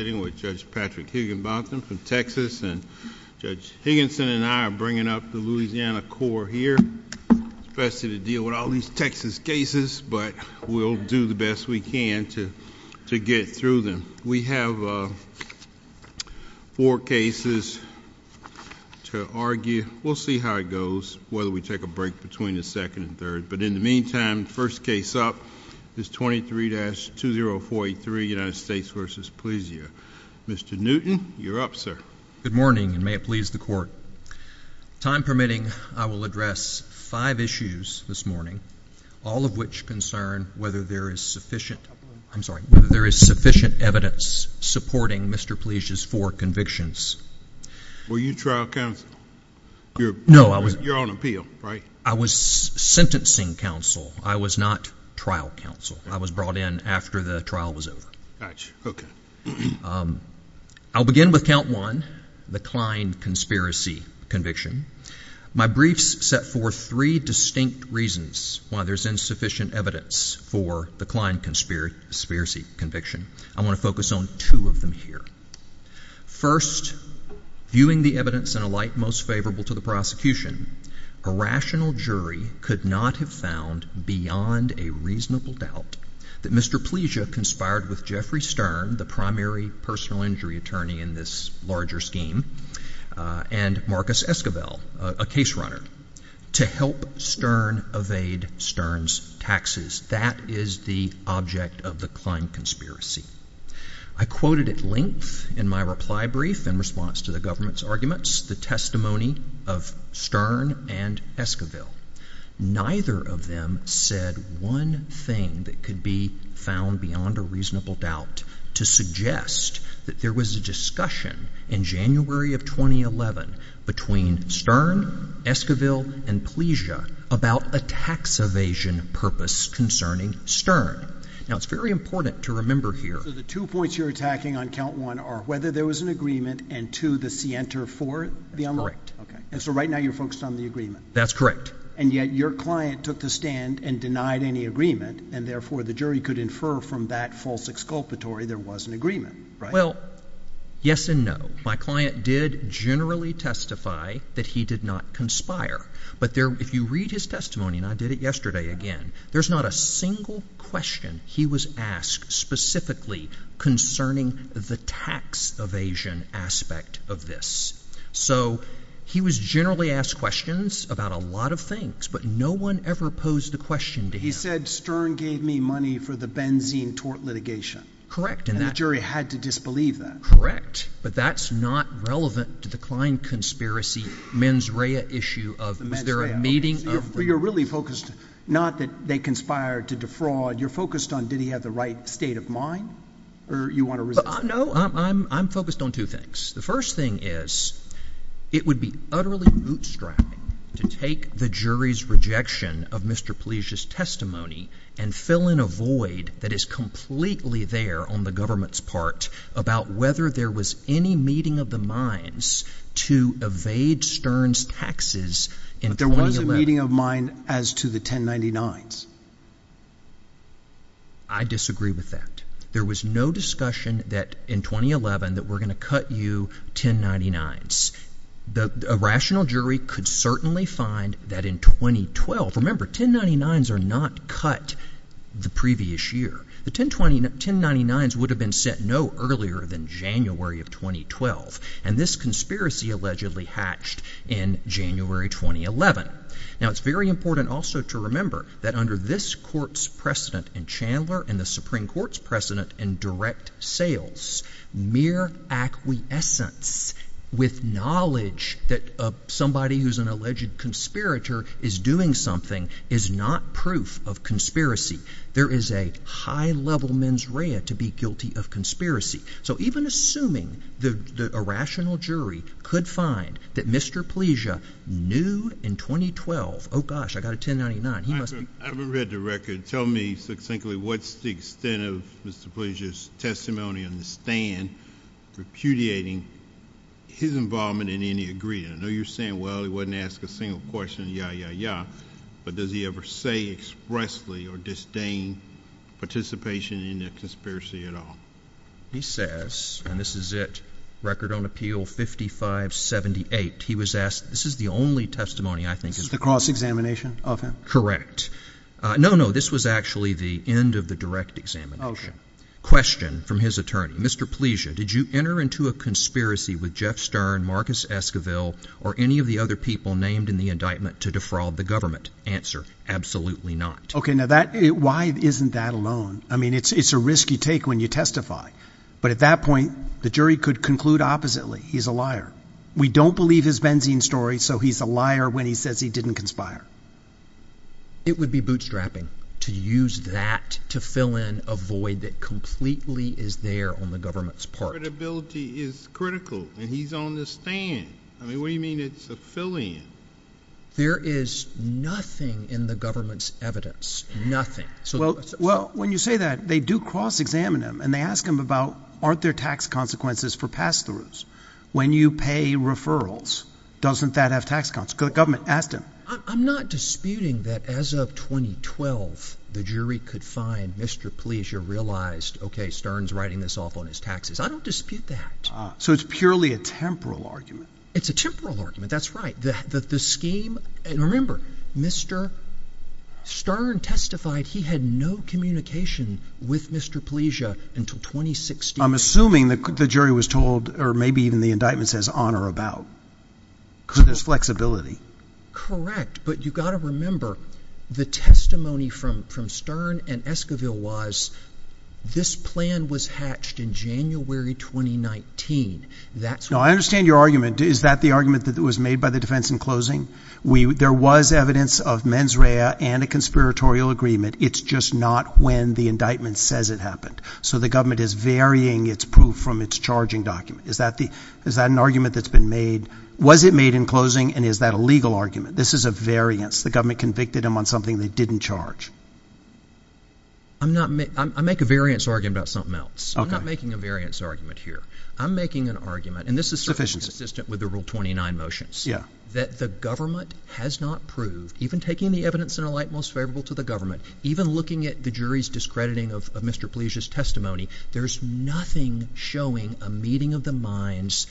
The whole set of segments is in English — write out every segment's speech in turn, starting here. I'm sitting with Judge Patrick Higginbotham from Texas and Judge Higginson and I are bringing up the Louisiana court here. It's best to deal with all these Texas cases, but we'll do the best we can to get through them. We have four cases to argue. We'll see how it goes, whether we take a break between the second and third, but in the meantime, first case up is 23-2043 United States v. Plezia. Mr. Newton, you're up, sir. Good morning and may it please the court. Time permitting, I will address five issues this morning, all of which concern whether there is sufficient evidence supporting Mr. Plezia's four convictions. Were you trial counsel? You're on appeal, right? I was sentencing counsel. I was not trial counsel. I was brought in after the trial was over. I'll begin with count one, the Klein conspiracy conviction. My briefs set forth three distinct reasons why there's insufficient evidence for the Klein conspiracy conviction. I want to focus on two of them here. First, viewing the evidence in a light most favorable to the prosecution, a rational jury could not have found beyond a reasonable doubt that Mr. Plezia conspired with Jeffrey Stern, the primary personal injury attorney in this larger scheme, and Marcus Esquivel, a case runner, to help Stern evade Stern's taxes. That is the object of the Klein conspiracy. I quoted at length in my reply brief in response to the government's arguments the testimony of Stern and Esquivel. Neither of them said one thing that could be found beyond a reasonable doubt to suggest that there was a discussion in January of 2011 between Stern, Esquivel, and Plezia about a tax evasion purpose concerning Stern. Now, it's very important to remember here. The two points you're attacking on count one are whether there was an agreement, and two, the scienter for the unlawful. That's correct. And so right now you're focused on the agreement. That's correct. And yet your client took the stand and denied any agreement, and therefore the jury could infer from that false exculpatory there was an agreement, right? Well, yes and no. My client did generally testify that he did not conspire. But if you read his testimony, and I did it yesterday again, there's not a single question he was asked specifically concerning the tax evasion aspect of this. So he was generally asked questions about a lot of things, but no one ever posed the question to him. He said Stern gave me money for the benzene tort litigation. Correct. And the jury had to disbelieve that. Correct. But that's not relevant to the Klein conspiracy mens rea issue of is there a meeting of the— You're really focused not that they conspired to defraud. You're focused on did he have the right state of mind, or you want to— No, I'm focused on two things. The first thing is, it would be utterly bootstrapping to take the jury's rejection of Mr. Palicia's testimony and fill in a void that is completely there on the government's part about whether there was any meeting of the minds to evade Stern's taxes in 2011. There was a meeting of mind as to the 1099s. I disagree with that. There was no discussion that in 2011 that we're going to cut you 1099s. A rational jury could certainly find that in 2012—remember, 1099s are not cut the previous year. The 1099s would have been set no earlier than January of 2012, and this conspiracy allegedly hatched in January 2011. Now it's very important also to remember that under this court's precedent in Chandler and the Supreme Court's precedent in direct sales, mere acquiescence with knowledge that somebody who's an alleged conspirator is doing something is not proof of conspiracy. There is a high-level mens rea to be guilty of conspiracy. So even assuming that a rational jury could find that Mr. Palicia knew in 2012, oh gosh, I got a 1099, he must be— I haven't read the record. Tell me succinctly what's the extent of Mr. Palicia's testimony on the stand repudiating his involvement in any agreement? I know you're saying, well, he wasn't asked a single question, yeah, yeah, yeah, but does he ever say expressly or disdain participation in the conspiracy at all? He says, and this is it, record on appeal 5578, he was asked—this is the only testimony I think is— This is the cross-examination of him? Correct. No, no, this was actually the end of the direct examination. Okay. Question from his attorney. Mr. Palicia, did you enter into a conspiracy with Jeff Stern, Marcus Esquivel, or any of the other people named in the indictment to defraud the government? Answer, absolutely not. Okay, now that—why isn't that alone? I mean, it's a risk you take when you testify, but at that point, the jury could conclude oppositely, he's a liar. We don't believe his benzene story, so he's a liar when he says he didn't conspire. It would be bootstrapping to use that to fill in a void that completely is there on the government's part. Credibility is critical, and he's on the stand. I mean, what do you mean it's a fill-in? There is nothing in the government's evidence. Nothing. Well, when you say that, they do cross-examine him, and they ask him about, aren't there tax consequences for pass-throughs? When you pay referrals, doesn't that have tax consequences? The government asked him. I'm not disputing that as of 2012, the jury could find Mr. Palicia realized, okay, Stern's writing this off on his taxes. I don't dispute that. So it's purely a temporal argument. It's a temporal argument, that's right. The scheme, and remember, Mr. Stern testified he had no communication with Mr. Palicia until 2016. I'm assuming the jury was told, or maybe even the indictment says on or about, because there's flexibility. Correct, but you've got to remember, the testimony from Stern and Esquivel was, this plan was hatched in January 2019. No, I understand your argument. Is that the argument that was made by the defense in closing? There was evidence of mens rea and a conspiratorial agreement. It's just not when the indictment says it happened. So the government is varying its proof from its charging document. Is that an argument that's been made? Was it made in closing, and is that a legal argument? This is a variance. The government convicted him on something they didn't charge. I make a variance argument about something else. I'm not making a variance argument here. I'm making an argument, and this is sufficient and consistent with the Rule 29 motions, that the government has not proved, even taking the evidence in a light most favorable to the government, even looking at the jury's discrediting of Mr. Palicia's testimony, there's nothing showing a meeting of the minds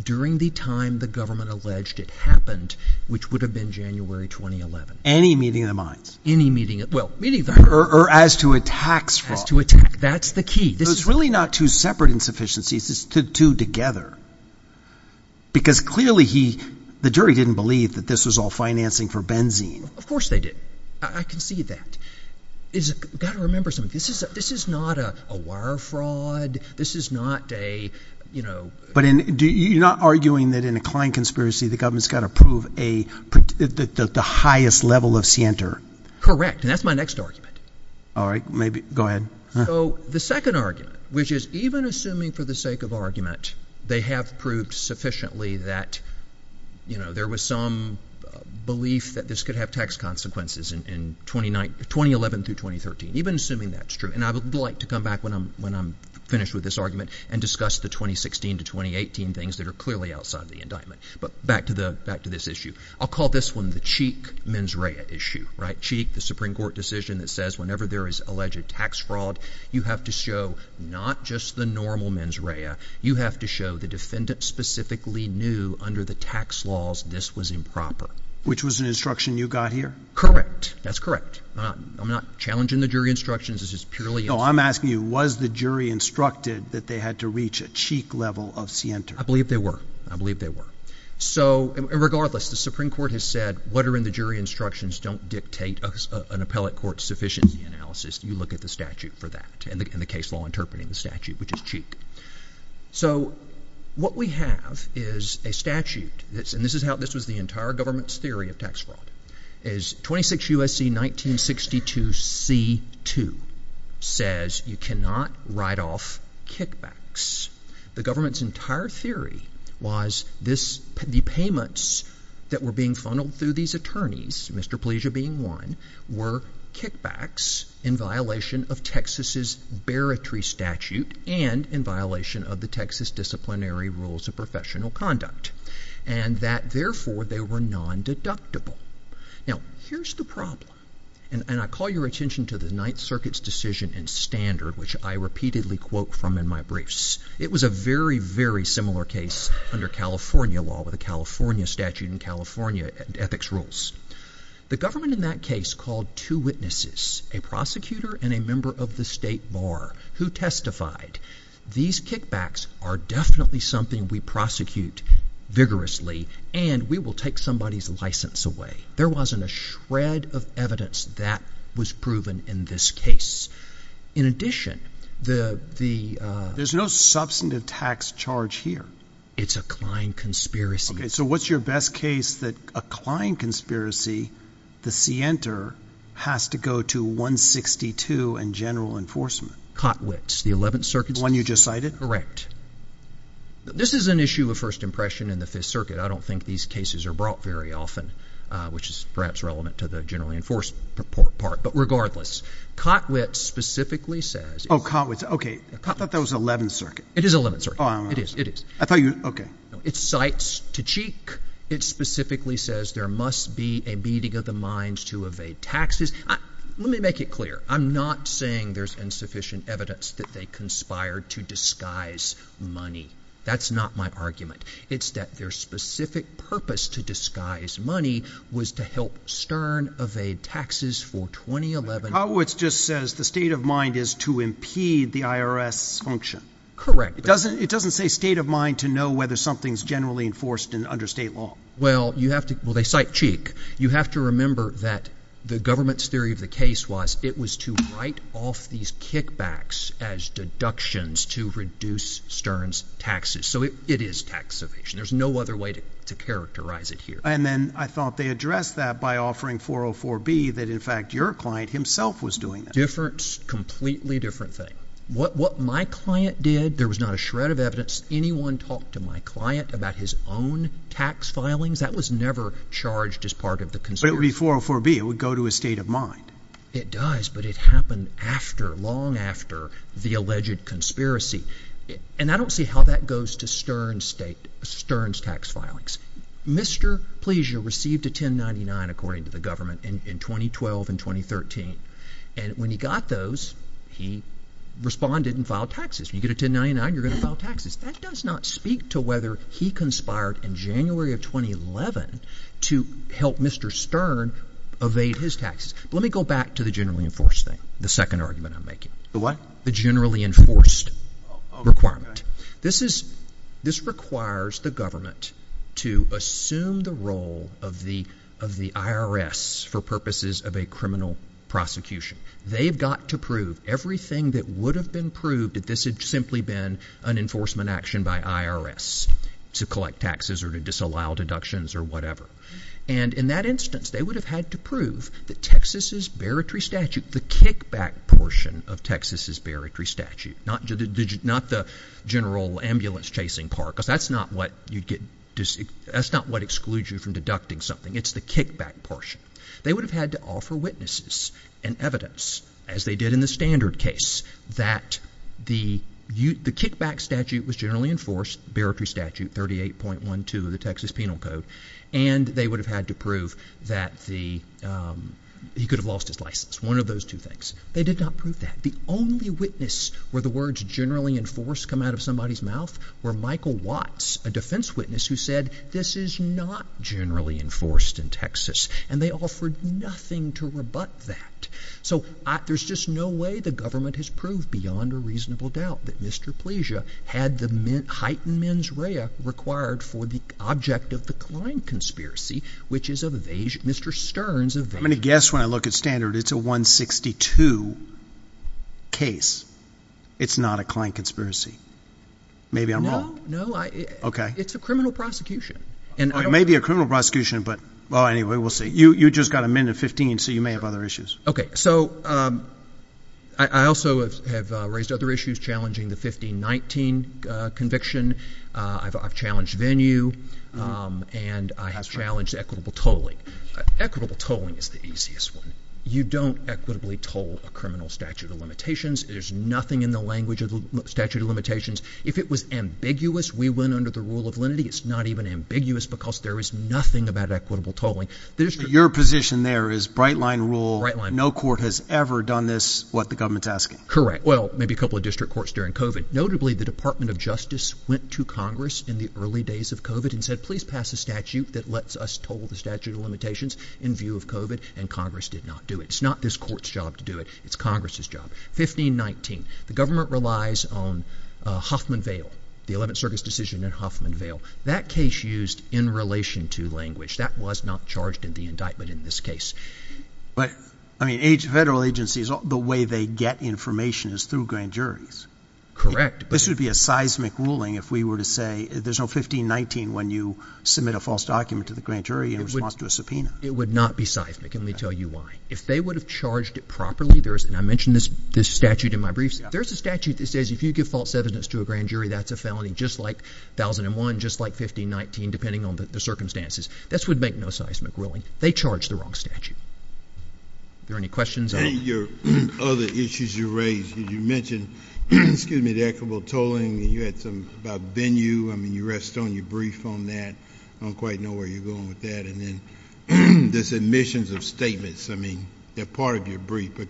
during the time the government alleged it happened, which would have been January 2011. Any meeting of the minds? Any meeting of the minds. Well, meeting of the minds. Or as to a tax fraud. As to a tax fraud. That's the key. So it's really not two separate insufficiencies. It's the two together. Because clearly he, the jury didn't believe that this was all financing for benzene. Of course they didn't. I can see that. You've got to remember something. This is not a wire fraud. This is not a, you know. But you're not arguing that in a client conspiracy, the government's got to prove the highest level of scienter. Correct. And that's my next argument. All right. Go ahead. So the second argument, which is even assuming for the sake of argument, they have proved sufficiently that, you know, there was some belief that this could have tax consequences in 2011 through 2013. Even assuming that's true. And I would like to come back when I'm finished with this argument and discuss the 2016 to 2018 things that are clearly outside of the indictment. But back to this issue. I'll call this one the Cheek-Menzraya issue, right? Remember there is alleged tax fraud. You have to show not just the normal Menzraya. You have to show the defendant specifically knew under the tax laws, this was improper. Which was an instruction you got here. Correct. That's correct. I'm not challenging the jury instructions. This is purely. No, I'm asking you, was the jury instructed that they had to reach a cheek level of scienter? I believe they were. I believe they were. So regardless, the Supreme Court has said, what are in the jury instructions don't dictate an appellate court's sufficiency analysis. You look at the statute for that and the case law interpreting the statute, which is Cheek. So what we have is a statute that's, and this is how, this was the entire government's theory of tax fraud, is 26 U.S.C. 1962 C2 says you cannot write off kickbacks. The government's entire theory was this, the payments that were being funneled through these attorneys, Mr. Pleasure being one, were kickbacks in violation of Texas's Baratree statute and in violation of the Texas disciplinary rules of professional conduct. And that therefore they were non-deductible. Now here's the problem, and I call your attention to the Ninth Circuit's decision in Standard, which I repeatedly quote from in my briefs, it was a very, very similar case under California law with a California statute and California ethics rules. The government in that case called two witnesses, a prosecutor and a member of the state bar, who testified, these kickbacks are definitely something we prosecute vigorously and we will take somebody's license away. There wasn't a shred of evidence that was proven in this case. In addition, the, the, uh, there's no substantive tax charge here. It's a client conspiracy. Okay. So what's your best case that a client conspiracy, the Sienter has to go to 162 and general enforcement Cotwits. The 11th Circuit, the one you just cited, correct? This is an issue of first impression in the Fifth Circuit. I don't think these cases are brought very often, uh, which is perhaps relevant to the generally enforced part, but regardless, Cotwits specifically says, Oh, Cotwits. Okay. I thought that was 11th Circuit. It is 11th Circuit. Oh, it is. It is. I thought you, okay. It's sites to cheek. It specifically says there must be a beating of the minds to evade taxes. Let me make it clear. I'm not saying there's insufficient evidence that they conspired to disguise money. That's not my argument. It's that their specific purpose to disguise money was to help Stern evade taxes for 2011. Cotwits just says the state of mind is to impede the IRS function. Correct. It doesn't, it doesn't say state of mind to know whether something's generally enforced in understate law. Well, you have to, well, they cite cheek. You have to remember that the government's theory of the case was it was to write off these kickbacks as deductions to reduce Stern's taxes. So it is tax evasion. There's no other way to characterize it here. And then I thought they addressed that by offering 404B that in fact your client himself was doing that. Different, completely different thing. What my client did, there was not a shred of evidence. Anyone talked to my client about his own tax filings, that was never charged as part of the conspiracy. But it would be 404B. It would go to a state of mind. It does, but it happened after, long after the alleged conspiracy. And I don't see how that goes to Stern's state, Stern's tax filings. Mr. Pleasure received a 1099, according to the government, in 2012 and 2013. And when he got those, he responded and filed taxes. You get a 1099, you're going to file taxes. That does not speak to whether he conspired in January of 2011 to help Mr. Stern evade his taxes. Let me go back to the generally enforced thing, the second argument I'm making. The what? The generally enforced requirement. This is, this requires the government to assume the role of the IRS for purposes of a criminal prosecution. They've got to prove everything that would have been proved if this had simply been an enforcement action by IRS to collect taxes or to disallow deductions or whatever. And in that instance, they would have had to prove that Texas's barratory statute, the kickback portion of Texas's barratory statute, not the general ambulance chasing part, because that's not what you'd get, that's not what excludes you from deducting something. It's the kickback portion. They would have had to offer witnesses and evidence, as they did in the standard case, that the kickback statute was generally enforced, barratory statute 38.12 of the Texas Penal Code, and they would have had to prove that he could have lost his license, one of those two things. They did not prove that. The only witness where the words generally enforced come out of somebody's mouth were Michael Watts, a defense witness who said, this is not generally enforced in Texas. And they offered nothing to rebut that. So there's just no way the government has proved beyond a reasonable doubt that Mr. Pleasia had the heightened mens rea required for the object of the Klein conspiracy, which is Mr. Stern's evasion. I'm going to guess when I look at standard, it's a 162 case. It's not a Klein conspiracy. Maybe I'm wrong. No, no. Okay. It's a criminal prosecution. It may be a criminal prosecution, but, well, anyway, we'll see. You just got amended 15, so you may have other issues. Okay. So I also have raised other issues challenging the 1519 conviction. I've challenged venue, and I have challenged equitable tolling. Equitable tolling is the easiest one. You don't equitably toll a criminal statute of limitations. There's nothing in the language of the statute of limitations. If it was ambiguous, we went under the rule of lenity. It's not even ambiguous because there is nothing about equitable tolling. Your position there is bright line rule. No court has ever done this. What the government's asking. Correct. Well, maybe a couple of district courts during COVID. Notably, the Department of Justice went to Congress in the early days of COVID and said, please pass a statute that lets us total the statute of limitations in view of COVID. And Congress did not do it. It's not this court's job to do it. It's Congress's job. 1519. The government relies on Huffman Vail, the 11th Circus decision in Huffman Vail. That case used in relation to language. That was not charged in the indictment in this case. But, I mean, federal agencies, the way they get information is through grand juries. Correct. This would be a seismic ruling if we were to say, there's no 1519 when you submit a false document to the grand jury in response to a subpoena. It would not be seismic, and let me tell you why. If they would have charged it properly, there's, and I mentioned this statute in my briefs, there's a statute that says if you give false evidence to a grand jury, that's a felony just like 1001, just like 1519, depending on the circumstances. This would make no seismic ruling. They charged the wrong statute. Are there any questions? Other issues you raised, you mentioned, excuse me, the equitable tolling, and you had some about venue. I mean, you rest on your brief on that. I don't quite know where you're going with that. And then this admissions of statements, I mean, they're part of your brief, but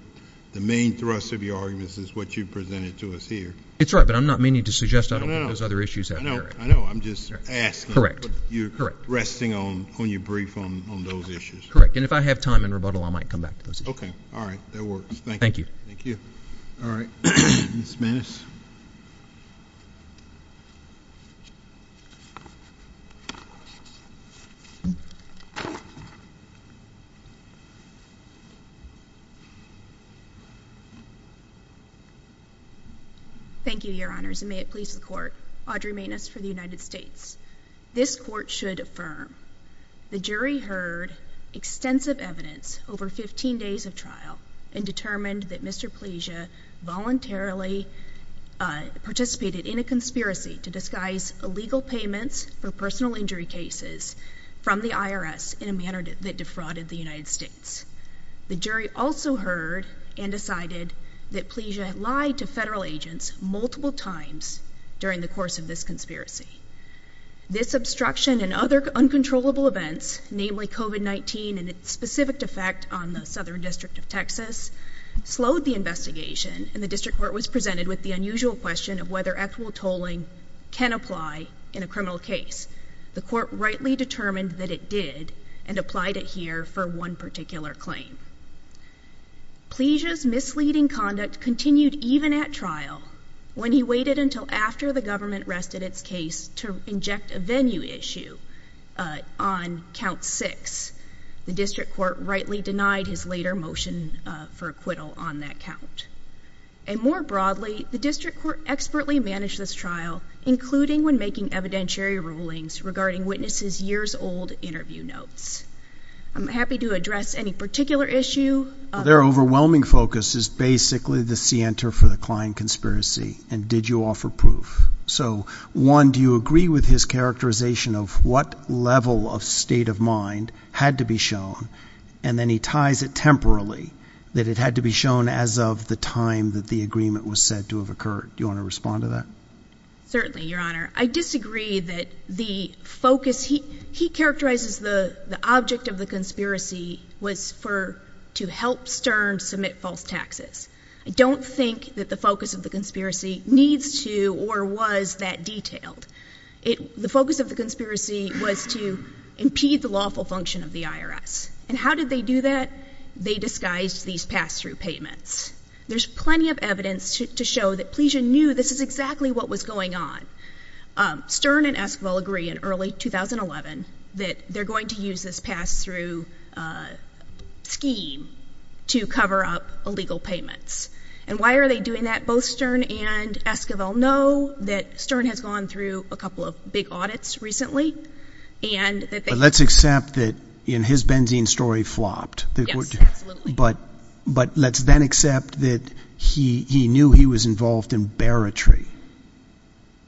the main thrust of your arguments is what you presented to us here. It's right, but I'm not meaning to suggest I don't want those other issues out there. I know. I know. I'm just asking. Correct. You're resting on your brief on those issues. Correct. And if I have time and rebuttal, I might come back to those issues. Okay. All right. That works. Thank you. Thank you. All right. Ms. Maness. Thank you, Your Honors, and may it please the Court, Audrey Maness for the United States. This Court should affirm the jury heard extensive evidence over 15 days of trial and determined that Mr. Pleasia voluntarily participated in a conspiracy to disguise illegal payments for personal injury cases from the IRS in a manner that defrauded the United States. The jury also heard and decided that Pleasia lied to federal agents multiple times during the course of this conspiracy. This obstruction and other uncontrollable events, namely COVID-19 and its specific effect on the Southern District of Texas, slowed the investigation and the district court was presented with the unusual question of whether equitable tolling can apply in a criminal case. The court rightly determined that it did and applied it here for one particular claim. Pleasia's misleading conduct continued even at trial when he waited until after the government rested its case to inject a venue issue on Count 6. The district court rightly denied his later motion for acquittal on that count. And more broadly, the district court expertly managed this trial, including when making evidentiary rulings regarding witnesses' years-old interview notes. I'm happy to address any particular issue. Their overwhelming focus is basically the scienter for the Klein conspiracy and did you offer proof. So one, do you agree with his characterization of what level of state of mind had to be shown and then he ties it temporally that it had to be shown as of the time that the agreement was said to have occurred. Do you want to respond to that? Certainly, Your Honor. I disagree that the focus, he characterizes the object of the conspiracy was to help Stern submit false taxes. I don't think that the focus of the conspiracy needs to or was that detailed. The focus of the conspiracy was to impede the lawful function of the IRS. And how did they do that? They disguised these pass-through payments. There's plenty of evidence to show that Pleasia knew this is exactly what was going on. Stern and Esquivel agree in early 2011 that they're going to use this pass-through scheme to cover up illegal payments. And why are they doing that? Both Stern and Esquivel know that Stern has gone through a couple of big audits recently and that they- But let's accept that in his benzene story flopped. Yes, absolutely. But let's then accept that he knew he was involved in bearetry.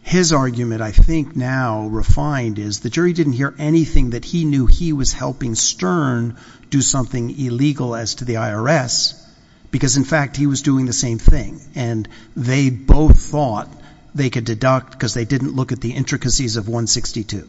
His argument I think now refined is the jury didn't hear anything that he knew he was helping Stern do something illegal as to the IRS because, in fact, he was doing the same thing. And they both thought they could deduct because they didn't look at the intricacies of 162.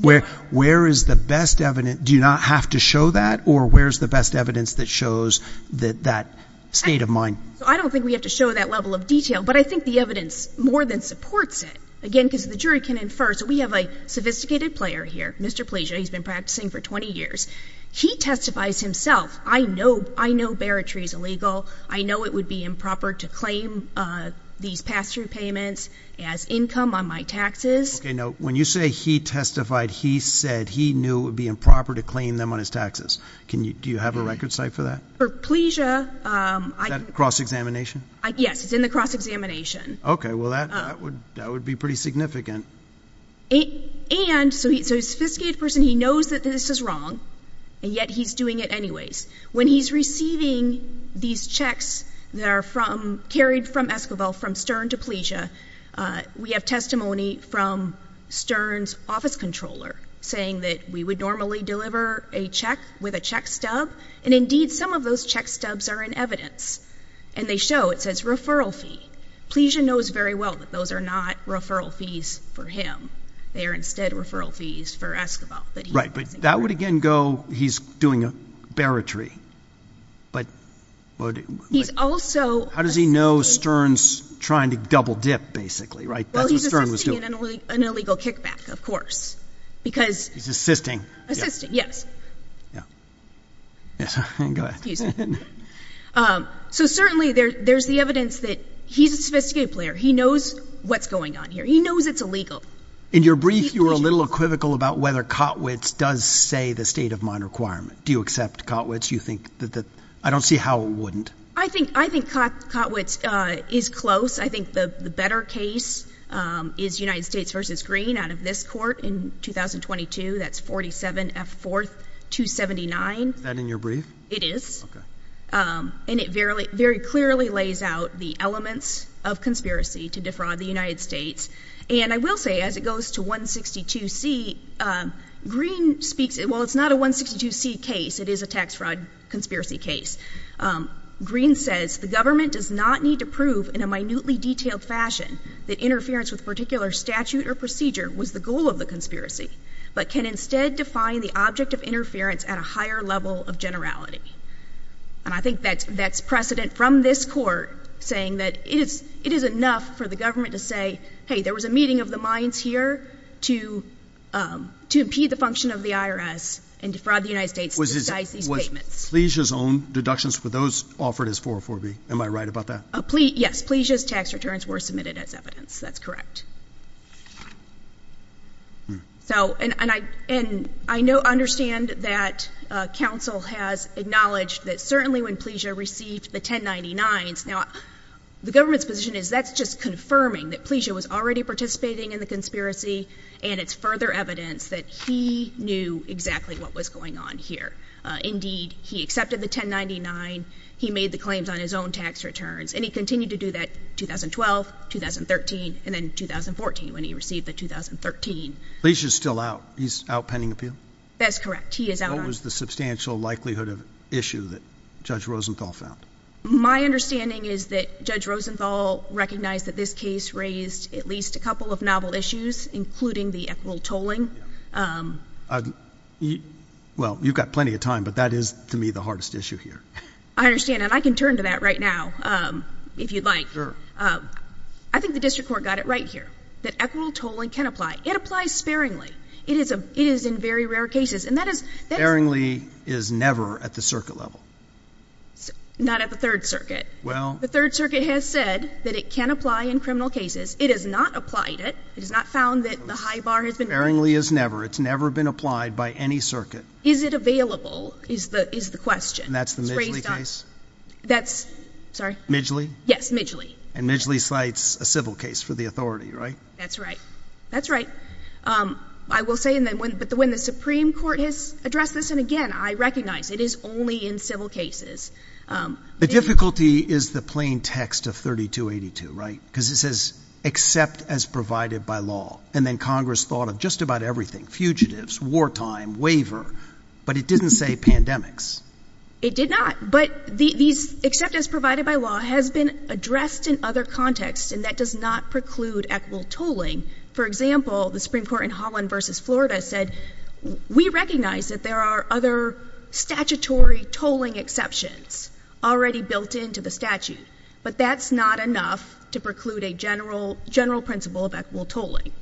Where is the best evidence? Do you not have to show that? Or where's the best evidence that shows that state of mind? I don't think we have to show that level of detail, but I think the evidence more than supports it. Again, because the jury can infer. So we have a sophisticated player here, Mr. Pleasia. He's been practicing for 20 years. He testifies himself. I know bearetry is illegal. I know it would be improper to claim these pass-through payments as income on my taxes. Okay. Now, when you say he testified, he said he knew it would be improper to claim them on his taxes. Do you have a record site for that? For Pleasia- Is that cross-examination? Yes. It's in the cross-examination. Okay. Well, that would be pretty significant. And so he's a sophisticated person. He knows that this is wrong, and yet he's doing it anyways. When he's receiving these checks that are carried from Esquivel, from Stern to Pleasia, we have testimony from Stern's office controller saying that we would normally deliver a check with a check stub, and indeed, some of those check stubs are in evidence. And they show. It says referral fee. Pleasia knows very well that those are not referral fees for him. They are instead referral fees for Esquivel. Right. But that would again go, he's doing a bearetry. But- He's also- How does he know Stern's trying to double-dip, basically? Right? That's what Stern was doing. Well, he's assisting in an illegal kickback, of course. Because- He's assisting. Assisting. Yes. Yeah. Yes. Go ahead. Excuse me. So, certainly, there's the evidence that he's a sophisticated player. He knows what's going on here. He knows it's illegal. In your brief, you were a little equivocal about whether Kotwicz does say the state-of-mind requirement. Do you accept Kotwicz? You think that the- I don't see how it wouldn't. I think Kotwicz is close. I think the better case is United States v. Green out of this court in 2022. That's 47F4279. Is that in your brief? It is. Okay. And it very clearly lays out the elements of conspiracy to defraud the United States. And I will say, as it goes to 162C, Green speaks- well, it's not a 162C case. It is a tax fraud conspiracy case. Green says, the government does not need to prove in a minutely detailed fashion that interference with a particular statute or procedure was the goal of the conspiracy, but can instead define the object of interference at a higher level of generality. And I think that's precedent from this court, saying that it is enough for the government to say, hey, there was a meeting of the minds here to impede the function of the IRS and defraud the United States to disguise these payments. Was Pleasia's own deductions for those offered as 404B? Am I right about that? Yes. Pleasia's tax returns were submitted as evidence. That's correct. So, and I, and I know, understand that counsel has acknowledged that certainly when Pleasia received the 1099s, now, the government's position is that's just confirming that Pleasia was already participating in the conspiracy and it's further evidence that he knew exactly what was going on here. Indeed, he accepted the 1099, he made the claims on his own tax returns, and he continued to do that 2012, 2013, and then 2014 when he received the 2013. Pleasia's still out. He's out pending appeal? That's correct. He is out. What was the substantial likelihood of issue that Judge Rosenthal found? My understanding is that Judge Rosenthal recognized that this case raised at least a couple of novel issues, including the equitable tolling. Well, you've got plenty of time, but that is, to me, the hardest issue here. I understand. And I can turn to that right now, if you'd like. I think the district court got it right here, that equitable tolling can apply. It applies sparingly. It is, it is in very rare cases, and that is, that is. Sparingly is never at the circuit level. Not at the Third Circuit. Well. The Third Circuit has said that it can apply in criminal cases. It has not applied it. It has not found that the high bar has been raised. Sparingly is never. It's never been applied by any circuit. Is it available, is the, is the question. And that's the Midgley case? That's, sorry. Midgley? Yes, Midgley. And Midgley cites a civil case for the authority, right? That's right. That's right. I will say, but when the Supreme Court has addressed this, and again, I recognize, it is only in civil cases. The difficulty is the plain text of 3282, right, because it says, accept as provided by law. And then Congress thought of just about everything, fugitives, wartime, waiver, but it didn't say pandemics. It did not. But the, these accept as provided by law has been addressed in other contexts, and that does not preclude equitable tolling. For example, the Supreme Court in Holland versus Florida said, we recognize that there are other statutory tolling exceptions already built into the statute. But that's not enough to preclude a general, general principle of equitable tolling.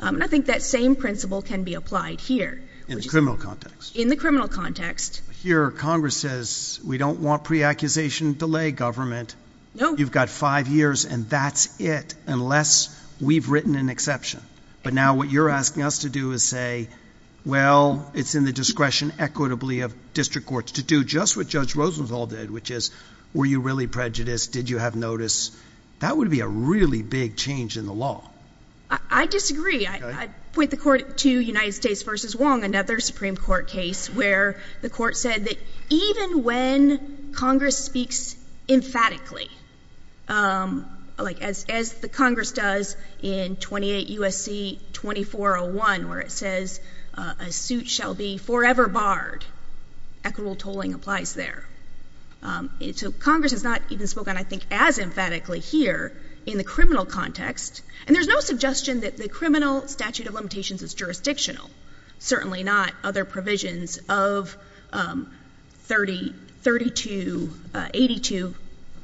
And I think that same principle can be applied here. In the criminal context. In the criminal context. But here, Congress says, we don't want pre-accusation delay, government. No. You've got five years, and that's it, unless we've written an exception. But now what you're asking us to do is say, well, it's in the discretion equitably of district courts to do just what Judge Rosenthal did, which is, were you really prejudiced? Did you have notice? That would be a really big change in the law. I disagree. I point the court to United States versus Wong, another Supreme Court case, where the court said that even when Congress speaks emphatically, like as the Congress does in 28 U.S.C. 2401, where it says, a suit shall be forever barred, equitable tolling applies there. So Congress has not even spoken, I think, as emphatically here in the criminal context. And there's no suggestion that the criminal statute of limitations is jurisdictional. Certainly not other provisions of 3282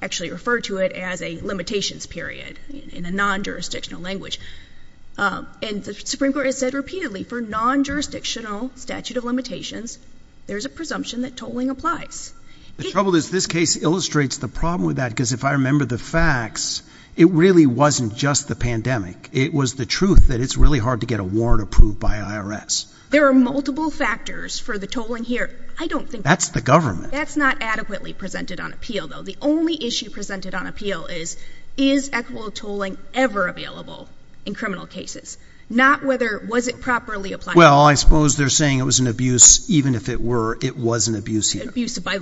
actually refer to it as a limitations period in a non-jurisdictional language. And the Supreme Court has said repeatedly, for non-jurisdictional statute of limitations, there's a presumption that tolling applies. The trouble is this case illustrates the problem with that, because if I remember the facts, it really wasn't just the pandemic. It was the truth that it's really hard to get a warrant approved by IRS. There are multiple factors for the tolling here. I don't think that's the government. That's not adequately presented on appeal, though. The only issue presented on appeal is, is equitable tolling ever available in criminal cases? Not whether, was it properly applied? Well, I suppose they're saying it was an abuse, even if it were, it was an abuse here. Abuse by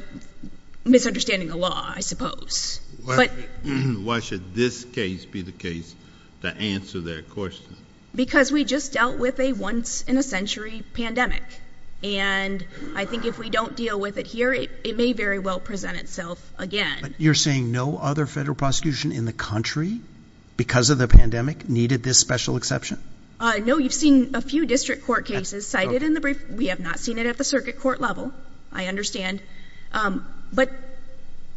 misunderstanding the law, I suppose. But why should this case be the case to answer their question? Because we just dealt with a once-in-a-century pandemic. And I think if we don't deal with it here, it may very well present itself again. You're saying no other federal prosecution in the country, because of the pandemic, needed this special exception? No, you've seen a few district court cases cited in the brief. We have not seen it at the circuit court level, I understand. But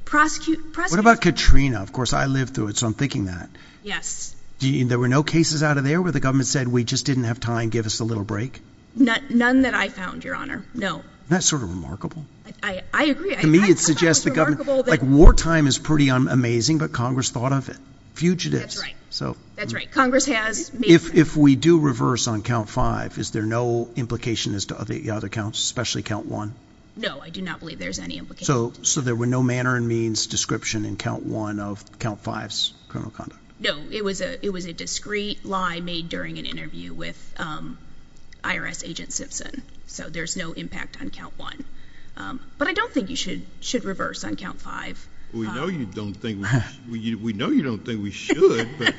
prosecute, prosecute. What about Katrina? Of course, I lived through it, so I'm thinking that. Yes. There were no cases out of there where the government said, we just didn't have time, give us a little break? None that I found, Your Honor. No. That's sort of remarkable. I agree. To me, it suggests the government, like wartime is pretty amazing, but Congress thought of it. Fugitives. That's right. That's right. Congress has. If we do reverse on count five, is there no implication as to the other counts, especially count one? No, I do not believe there's any implication. So, there were no manner and means description in count one of count five's criminal conduct? No, it was a discreet lie made during an interview with IRS agent Simpson. So, there's no impact on count one. But I don't think you should reverse on count five. We know you don't think we should, but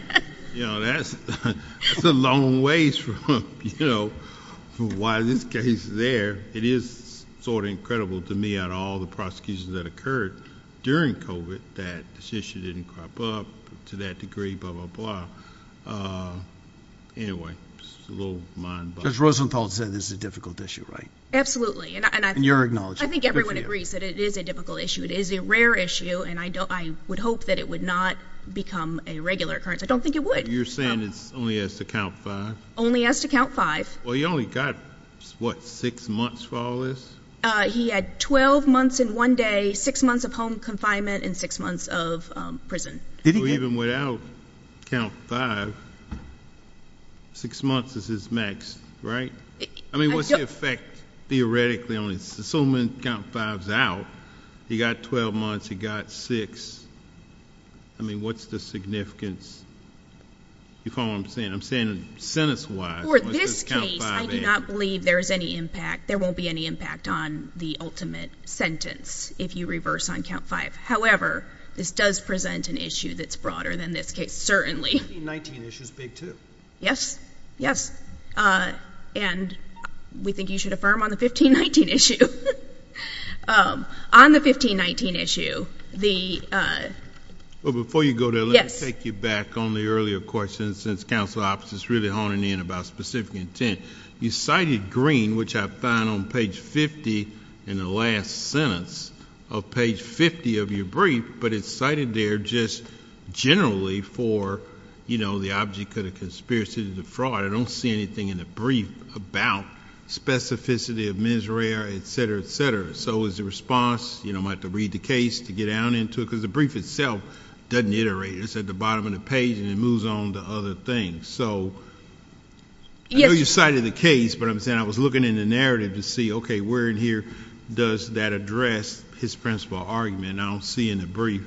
that's a long ways from why this case is there. It is sort of incredible to me out of all the prosecutions that occurred during COVID that this issue didn't crop up to that degree, blah, blah, blah. Anyway, it's a little mind boggling. Judge Rosenthal said this is a difficult issue, right? Absolutely. And you're acknowledging it. I think everyone agrees that it is a difficult issue. It is a rare issue, and I would hope that it would not become a regular occurrence. I don't think it would. You're saying it only has to count five? Only has to count five. Well, he only got, what, six months for all this? He had 12 months in one day, six months of home confinement, and six months of prison. Even without count five, six months is his max, right? I mean, what's the effect theoretically on it? So many count fives out. He got 12 months. He got six. I mean, what's the significance? You follow what I'm saying? I'm saying sentence-wise. For this case, I do not believe there is any impact. There won't be any impact on the ultimate sentence if you reverse on count five. However, this does present an issue that's broader than this case, certainly. The 1519 issue is big, too. Yes. Yes. And we think you should affirm on the 1519 issue. On the 1519 issue, the— Well, before you go there, let me take you back on the earlier question. Since counsel's office is really honing in about specific intent, you cited green, which I found on page 50 in the last sentence of page 50 of your brief, but it's cited there just generally for, you know, the object of the conspiracy to defraud. I don't see anything in the brief about specificity of mens rea, et cetera, et cetera. So is the response, you know, I'm going to have to read the case to get down into it? Because the brief itself doesn't iterate. It's at the bottom of the page, and it moves on to other things. So I know you cited the case, but I'm saying I was looking in the narrative to see, okay, where in here does that address his principal argument? I don't see in the brief.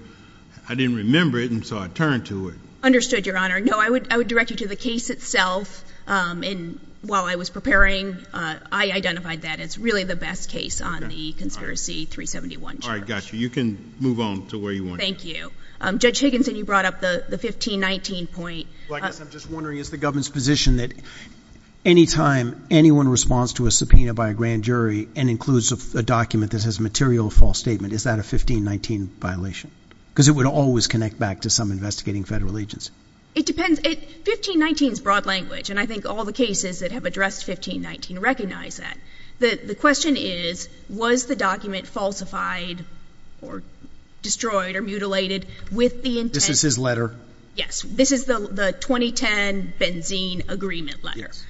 I didn't remember it, and so I turned to it. Understood, Your Honor. No, I would direct you to the case itself. And while I was preparing, I identified that it's really the best case on the conspiracy 371 charge. All right. Got you. You can move on to where you want to go. Thank you. Judge Higginson, you brought up the 1519 point. Well, I guess I'm just wondering, is the government's position that any time anyone responds to a subpoena by a grand jury and includes a document that has a material false statement, is that a 1519 violation? Because it would always connect back to some investigating federal agency. It depends. 1519 is broad language, and I think all the cases that have addressed 1519 recognize that. The question is, was the document falsified or destroyed or mutilated with the intent? This is his letter. Yes. This is the 2010 Benzene Agreement letter. Yes.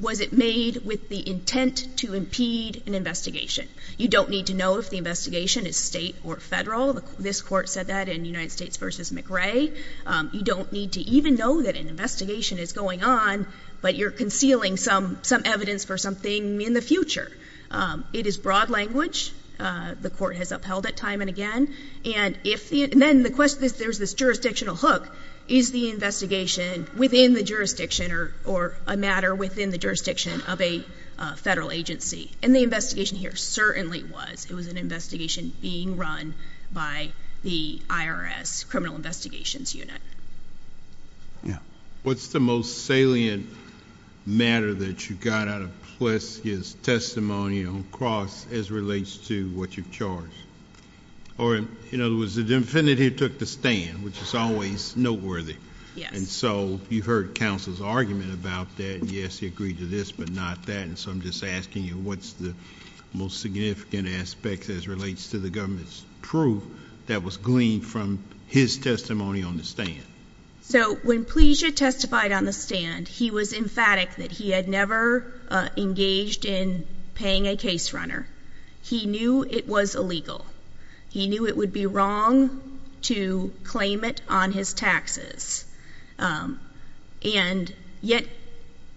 Was it made with the intent to impede an investigation? You don't need to know if the investigation is state or federal. This court said that in United States v. McRae. You don't need to even know that an investigation is going on, but you're concealing some evidence for something in the future. It is broad language. The court has upheld it time and again. And then the question is, there's this jurisdictional hook. Is the investigation within the jurisdiction or a matter within the jurisdiction of a federal agency? And the investigation here certainly was. It was an investigation being run by the IRS Criminal Investigations Unit. Yeah. What's the most salient matter that you got out of Plessy's testimony on Cross as relates to what you've charged? Or, in other words, the defendant here took the stand, which is always noteworthy. Yes. And so you heard counsel's argument about that. Yes, he agreed to this, but not that. And so I'm just asking you, what's the most significant aspect as relates to the government's proof that was gleaned from his testimony on the stand? So, when Plessy testified on the stand, he was emphatic that he had never engaged in paying a case runner. He knew it was illegal. He knew it would be wrong to claim it on his taxes. And yet,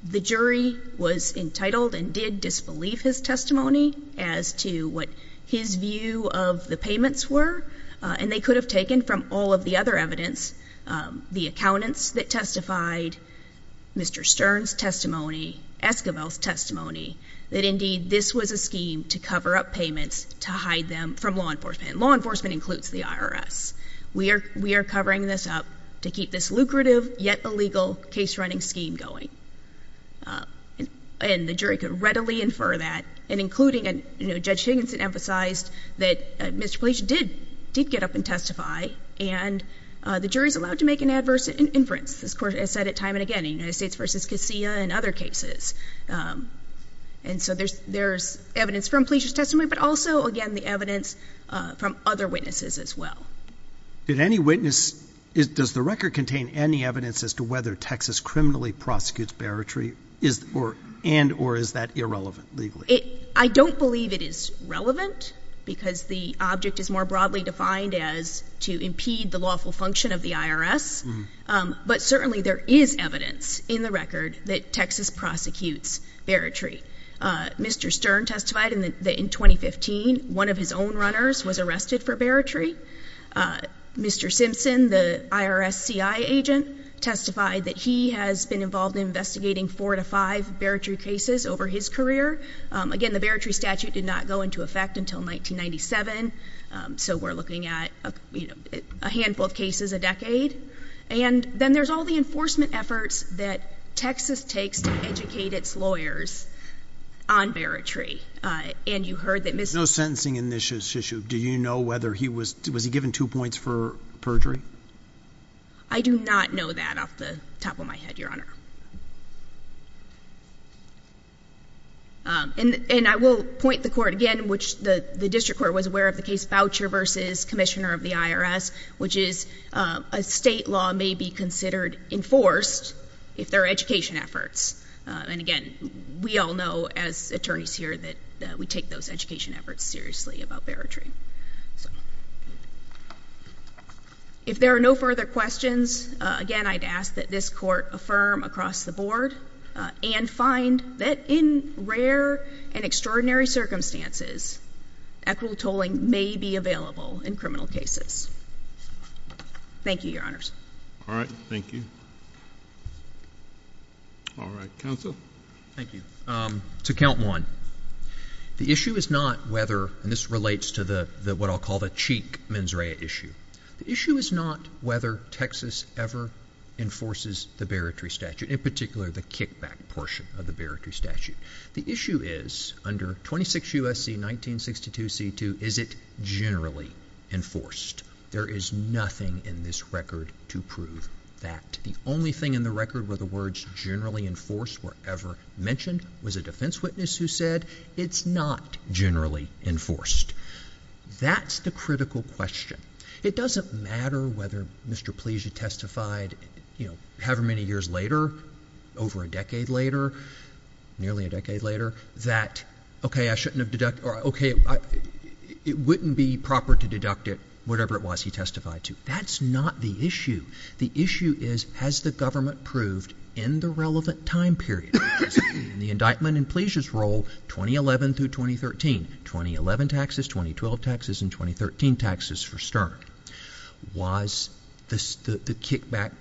the jury was entitled and did disbelieve his testimony as to what his view of the payments were. And they could have taken from all of the other evidence, the accountants that testified, Mr. Stern's testimony, Esquivel's testimony, that indeed this was a scheme to cover up payments to hide them from law enforcement. And law enforcement includes the IRS. We are covering this up to keep this lucrative, yet illegal, case-running scheme going. And the jury could readily infer that, and including Judge Higginson emphasized that Mr. Plessy did get up and testify, and the jury's allowed to make an adverse inference. This court has said it time and again in United States v. Casilla and other cases. And so there's evidence from Plessy's testimony, but also, again, the evidence from other witnesses as well. Did any witness, does the record contain any evidence as to whether Texas criminally prosecutes Baratree, and or is that irrelevant legally? I don't believe it is relevant, because the object is more broadly defined as to impede the lawful function of the IRS. But certainly there is evidence in the record that Texas prosecutes Baratree. Mr. Stern testified in 2015, one of his own runners was arrested for Baratree. Mr. Simpson, the IRS CI agent, testified that he has been involved in investigating four to five Baratree cases over his career. Again, the Baratree statute did not go into effect until 1997, so we're looking at a handful of cases a decade. And then there's all the enforcement efforts that Texas takes to educate its lawyers on Baratree. No sentencing in this issue. Do you know whether he was, was he given two points for perjury? I do not know that off the top of my head, Your Honor. And I will point the court again, which the district court was aware of the case voucher versus commissioner of the IRS, which is a state law may be considered enforced if there are education efforts. And again, we all know as attorneys here that we take those education efforts seriously about Baratree. If there are no further questions, again, I'd ask that this court affirm across the board and find that in rare and extraordinary circumstances, equitable tolling may be available in criminal cases. Thank you, Your Honors. All right. Thank you. All right. Counsel. Thank you. To count one, the issue is not whether, and this relates to the, what I'll call the cheek mens rea issue. The issue is not whether Texas ever enforces the Baratree statute, in particular the kickback portion of the Baratree statute. The issue is under 26 U.S.C. 1962 C.2, is it generally enforced? There is nothing in this record to prove that. The only thing in the record where the words generally enforced were ever mentioned was a defense witness who said it's not generally enforced. That's the critical question. It doesn't matter whether Mr. Plescia testified, you know, however many years later, over a decade later, nearly a decade later, that, okay, I shouldn't have deducted, or, okay, it wouldn't be proper to deduct it, whatever it was he testified to. That's not the issue. The issue is, has the government proved in the relevant time period, in the indictment in Plescia's role, 2011 through 2013, 2011 taxes, 2012 taxes, and 2013 taxes for Stern, was the kickback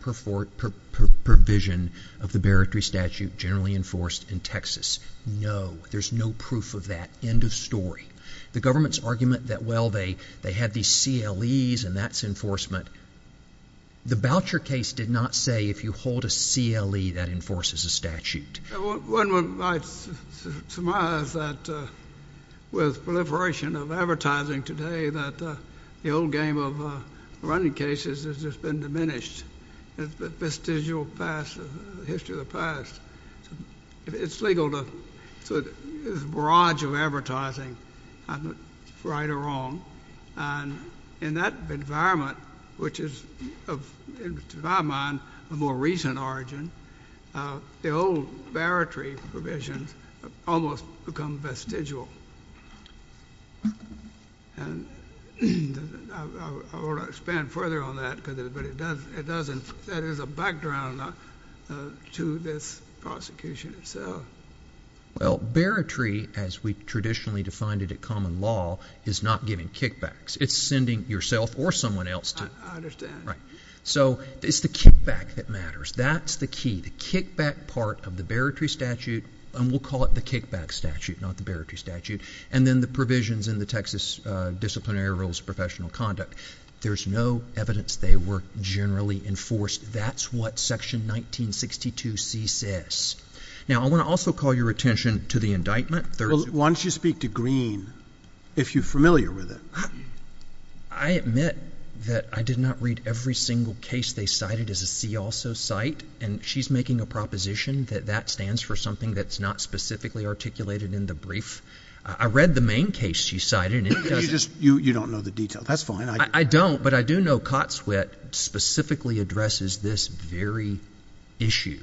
provision of the Baratree statute generally enforced in Texas? No, there's no proof of that, end of story. The government's argument that, well, they had these CLEs and that's enforcement, the Boucher case did not say if you hold a CLE, that enforces a statute. One might surmise that with proliferation of advertising today that the old game of running cases has just been diminished. It's a vestigial past, a history of the past. It's legal to, there's a barrage of advertising, right or wrong, and in that environment, which is, to my mind, a more recent origin, the old Baratree provisions almost become vestigial. And I won't expand further on that, but that is a background to this prosecution itself. Well, Baratree, as we traditionally defined it at common law, is not giving kickbacks. It's sending yourself or someone else to. I understand. So it's the kickback that matters. That's the key, the kickback part of the Baratree statute, and we'll call it the kickback statute, not the Baratree statute, and then the provisions in the Texas Disciplinary Rules of Professional Conduct. There's no evidence they were generally enforced. That's what Section 1962C says. Now, I want to also call your attention to the indictment. Why don't you speak to Greene, if you're familiar with it? I admit that I did not read every single case they cited as a see-also cite, and she's making a proposition that that stands for something that's not specifically articulated in the brief. I read the main case she cited, and it doesn't... You don't know the details. That's fine. I don't, but I do know Cotswet specifically addresses this very issue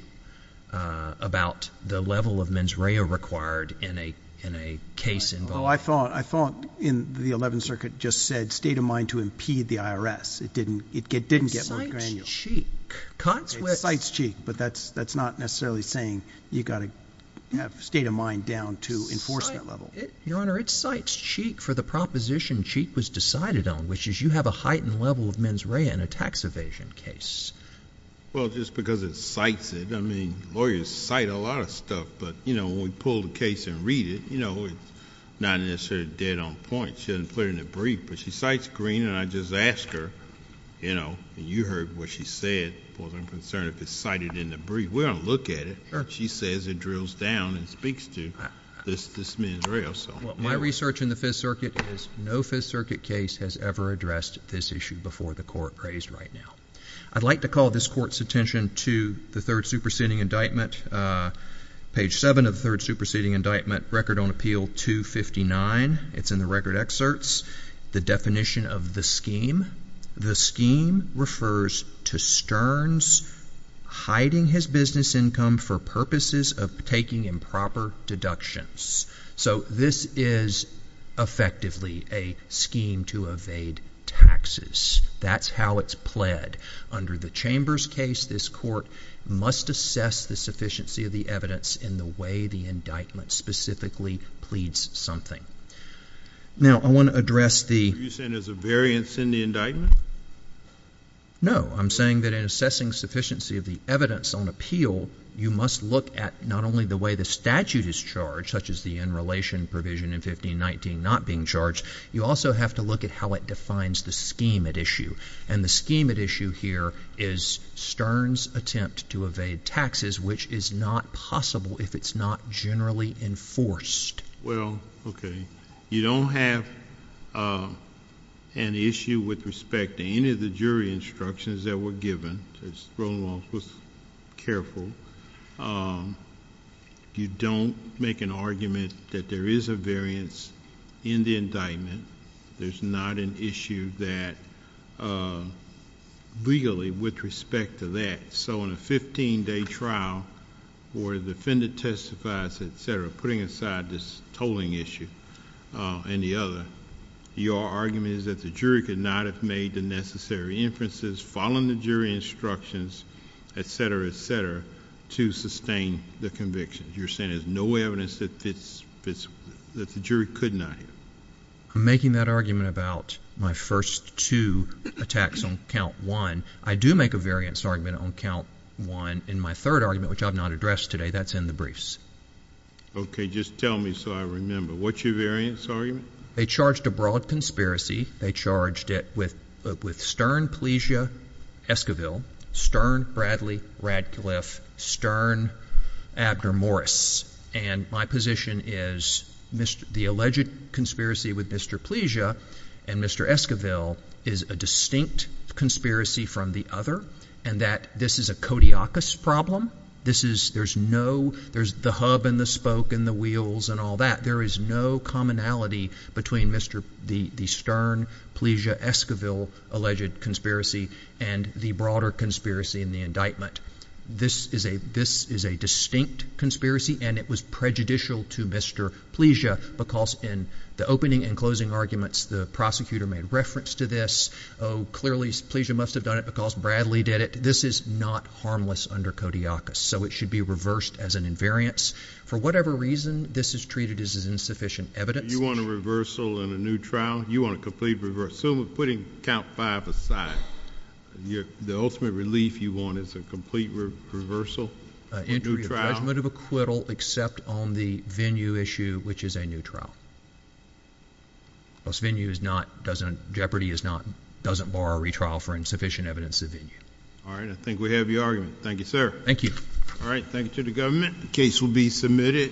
about the level of mens rea required in a case involving... Oh, I thought in the 11th Circuit it just said, state of mind to impede the IRS. It didn't get more granular. It cites cheek. It cites cheek, but that's not necessarily saying you've got to have state of mind down to enforcement level. Your Honor, it cites cheek for the proposition cheek was decided on, which is you have a heightened level of mens rea in a tax evasion case. Well, just because it cites it, I mean, lawyers cite a lot of stuff, but, you know, when we pull the case and read it, you know, it's not necessarily dead on point. She doesn't put it in the brief, but she cites Greene, and I just asked her, you know, and you heard what she said, as far as I'm concerned, if it's cited in the brief. We're going to look at it. She says it drills down and speaks to this mens rea. Well, my research in the Fifth Circuit is no Fifth Circuit case has ever addressed this issue before the Court raised right now. I'd like to call this Court's attention to the third superseding indictment. Page 7 of the third superseding indictment, Record on Appeal 259. It's in the record excerpts. The definition of the scheme. The scheme refers to Stearns hiding his business income for purposes of taking improper deductions. So this is effectively a scheme to evade taxes. That's how it's pled. Under the Chambers case, this Court must assess the sufficiency of the evidence in the way the indictment specifically pleads something. Now, I want to address the... Are you saying there's a variance in the indictment? No, I'm saying that in assessing sufficiency of the evidence on appeal, you must look at not only the way the statute is charged, such as the in-relation provision in 1519 not being charged, you also have to look at how it defines the scheme at issue. And the scheme at issue here is Stearns' attempt to evade taxes, which is not possible if it's not generally enforced. Well, okay. You don't have an issue with respect to any of the jury instructions that were given. Just roll along, careful. You don't make an argument that there is a variance in the indictment. There's not an issue that legally with respect to that. So in a 15-day trial where the defendant testifies, etc., putting aside this tolling issue and the other, your argument is that the jury could not have made the necessary inferences, following the jury instructions, etc., etc., to sustain the conviction. You're saying there's no evidence that the jury could not have. I'm making that argument about my first two attacks on count one. I do make a variance argument on count one in my third argument, which I've not addressed today. That's in the briefs. Okay, just tell me so I remember. What's your variance argument? They charged a broad conspiracy. They charged it with Stern, Pleasia, Esquivel, Stern, Bradley, Radcliffe, Stern, Abner, Morris. And my position is the alleged conspiracy with Mr. Pleasia and Mr. Esquivel is a distinct conspiracy from the other, and that this is a kodiakus problem. There's the hub and the spoke and the wheels and all that. There is no commonality between the Stern, Pleasia, Esquivel alleged conspiracy and the broader conspiracy in the indictment. This is a distinct conspiracy and it was prejudicial to Mr. Pleasia because in the opening and closing arguments, the prosecutor made reference to this. Clearly, Pleasia must have done it because Bradley did it. This is not harmless under kodiakus, so it should be reversed as an invariance. For whatever reason, this is treated as insufficient evidence. You want a reversal in a new trial? You want a complete reverse. So we're putting count five aside. The ultimate relief you want is a complete reversal? Entry of acquittal except on the venue issue which is a new trial. This venue is not, Jeopardy doesn't borrow a retrial for insufficient evidence of venue. Alright, I think we have your argument. Thank you, sir. Thank you to the government. The case will be submitted.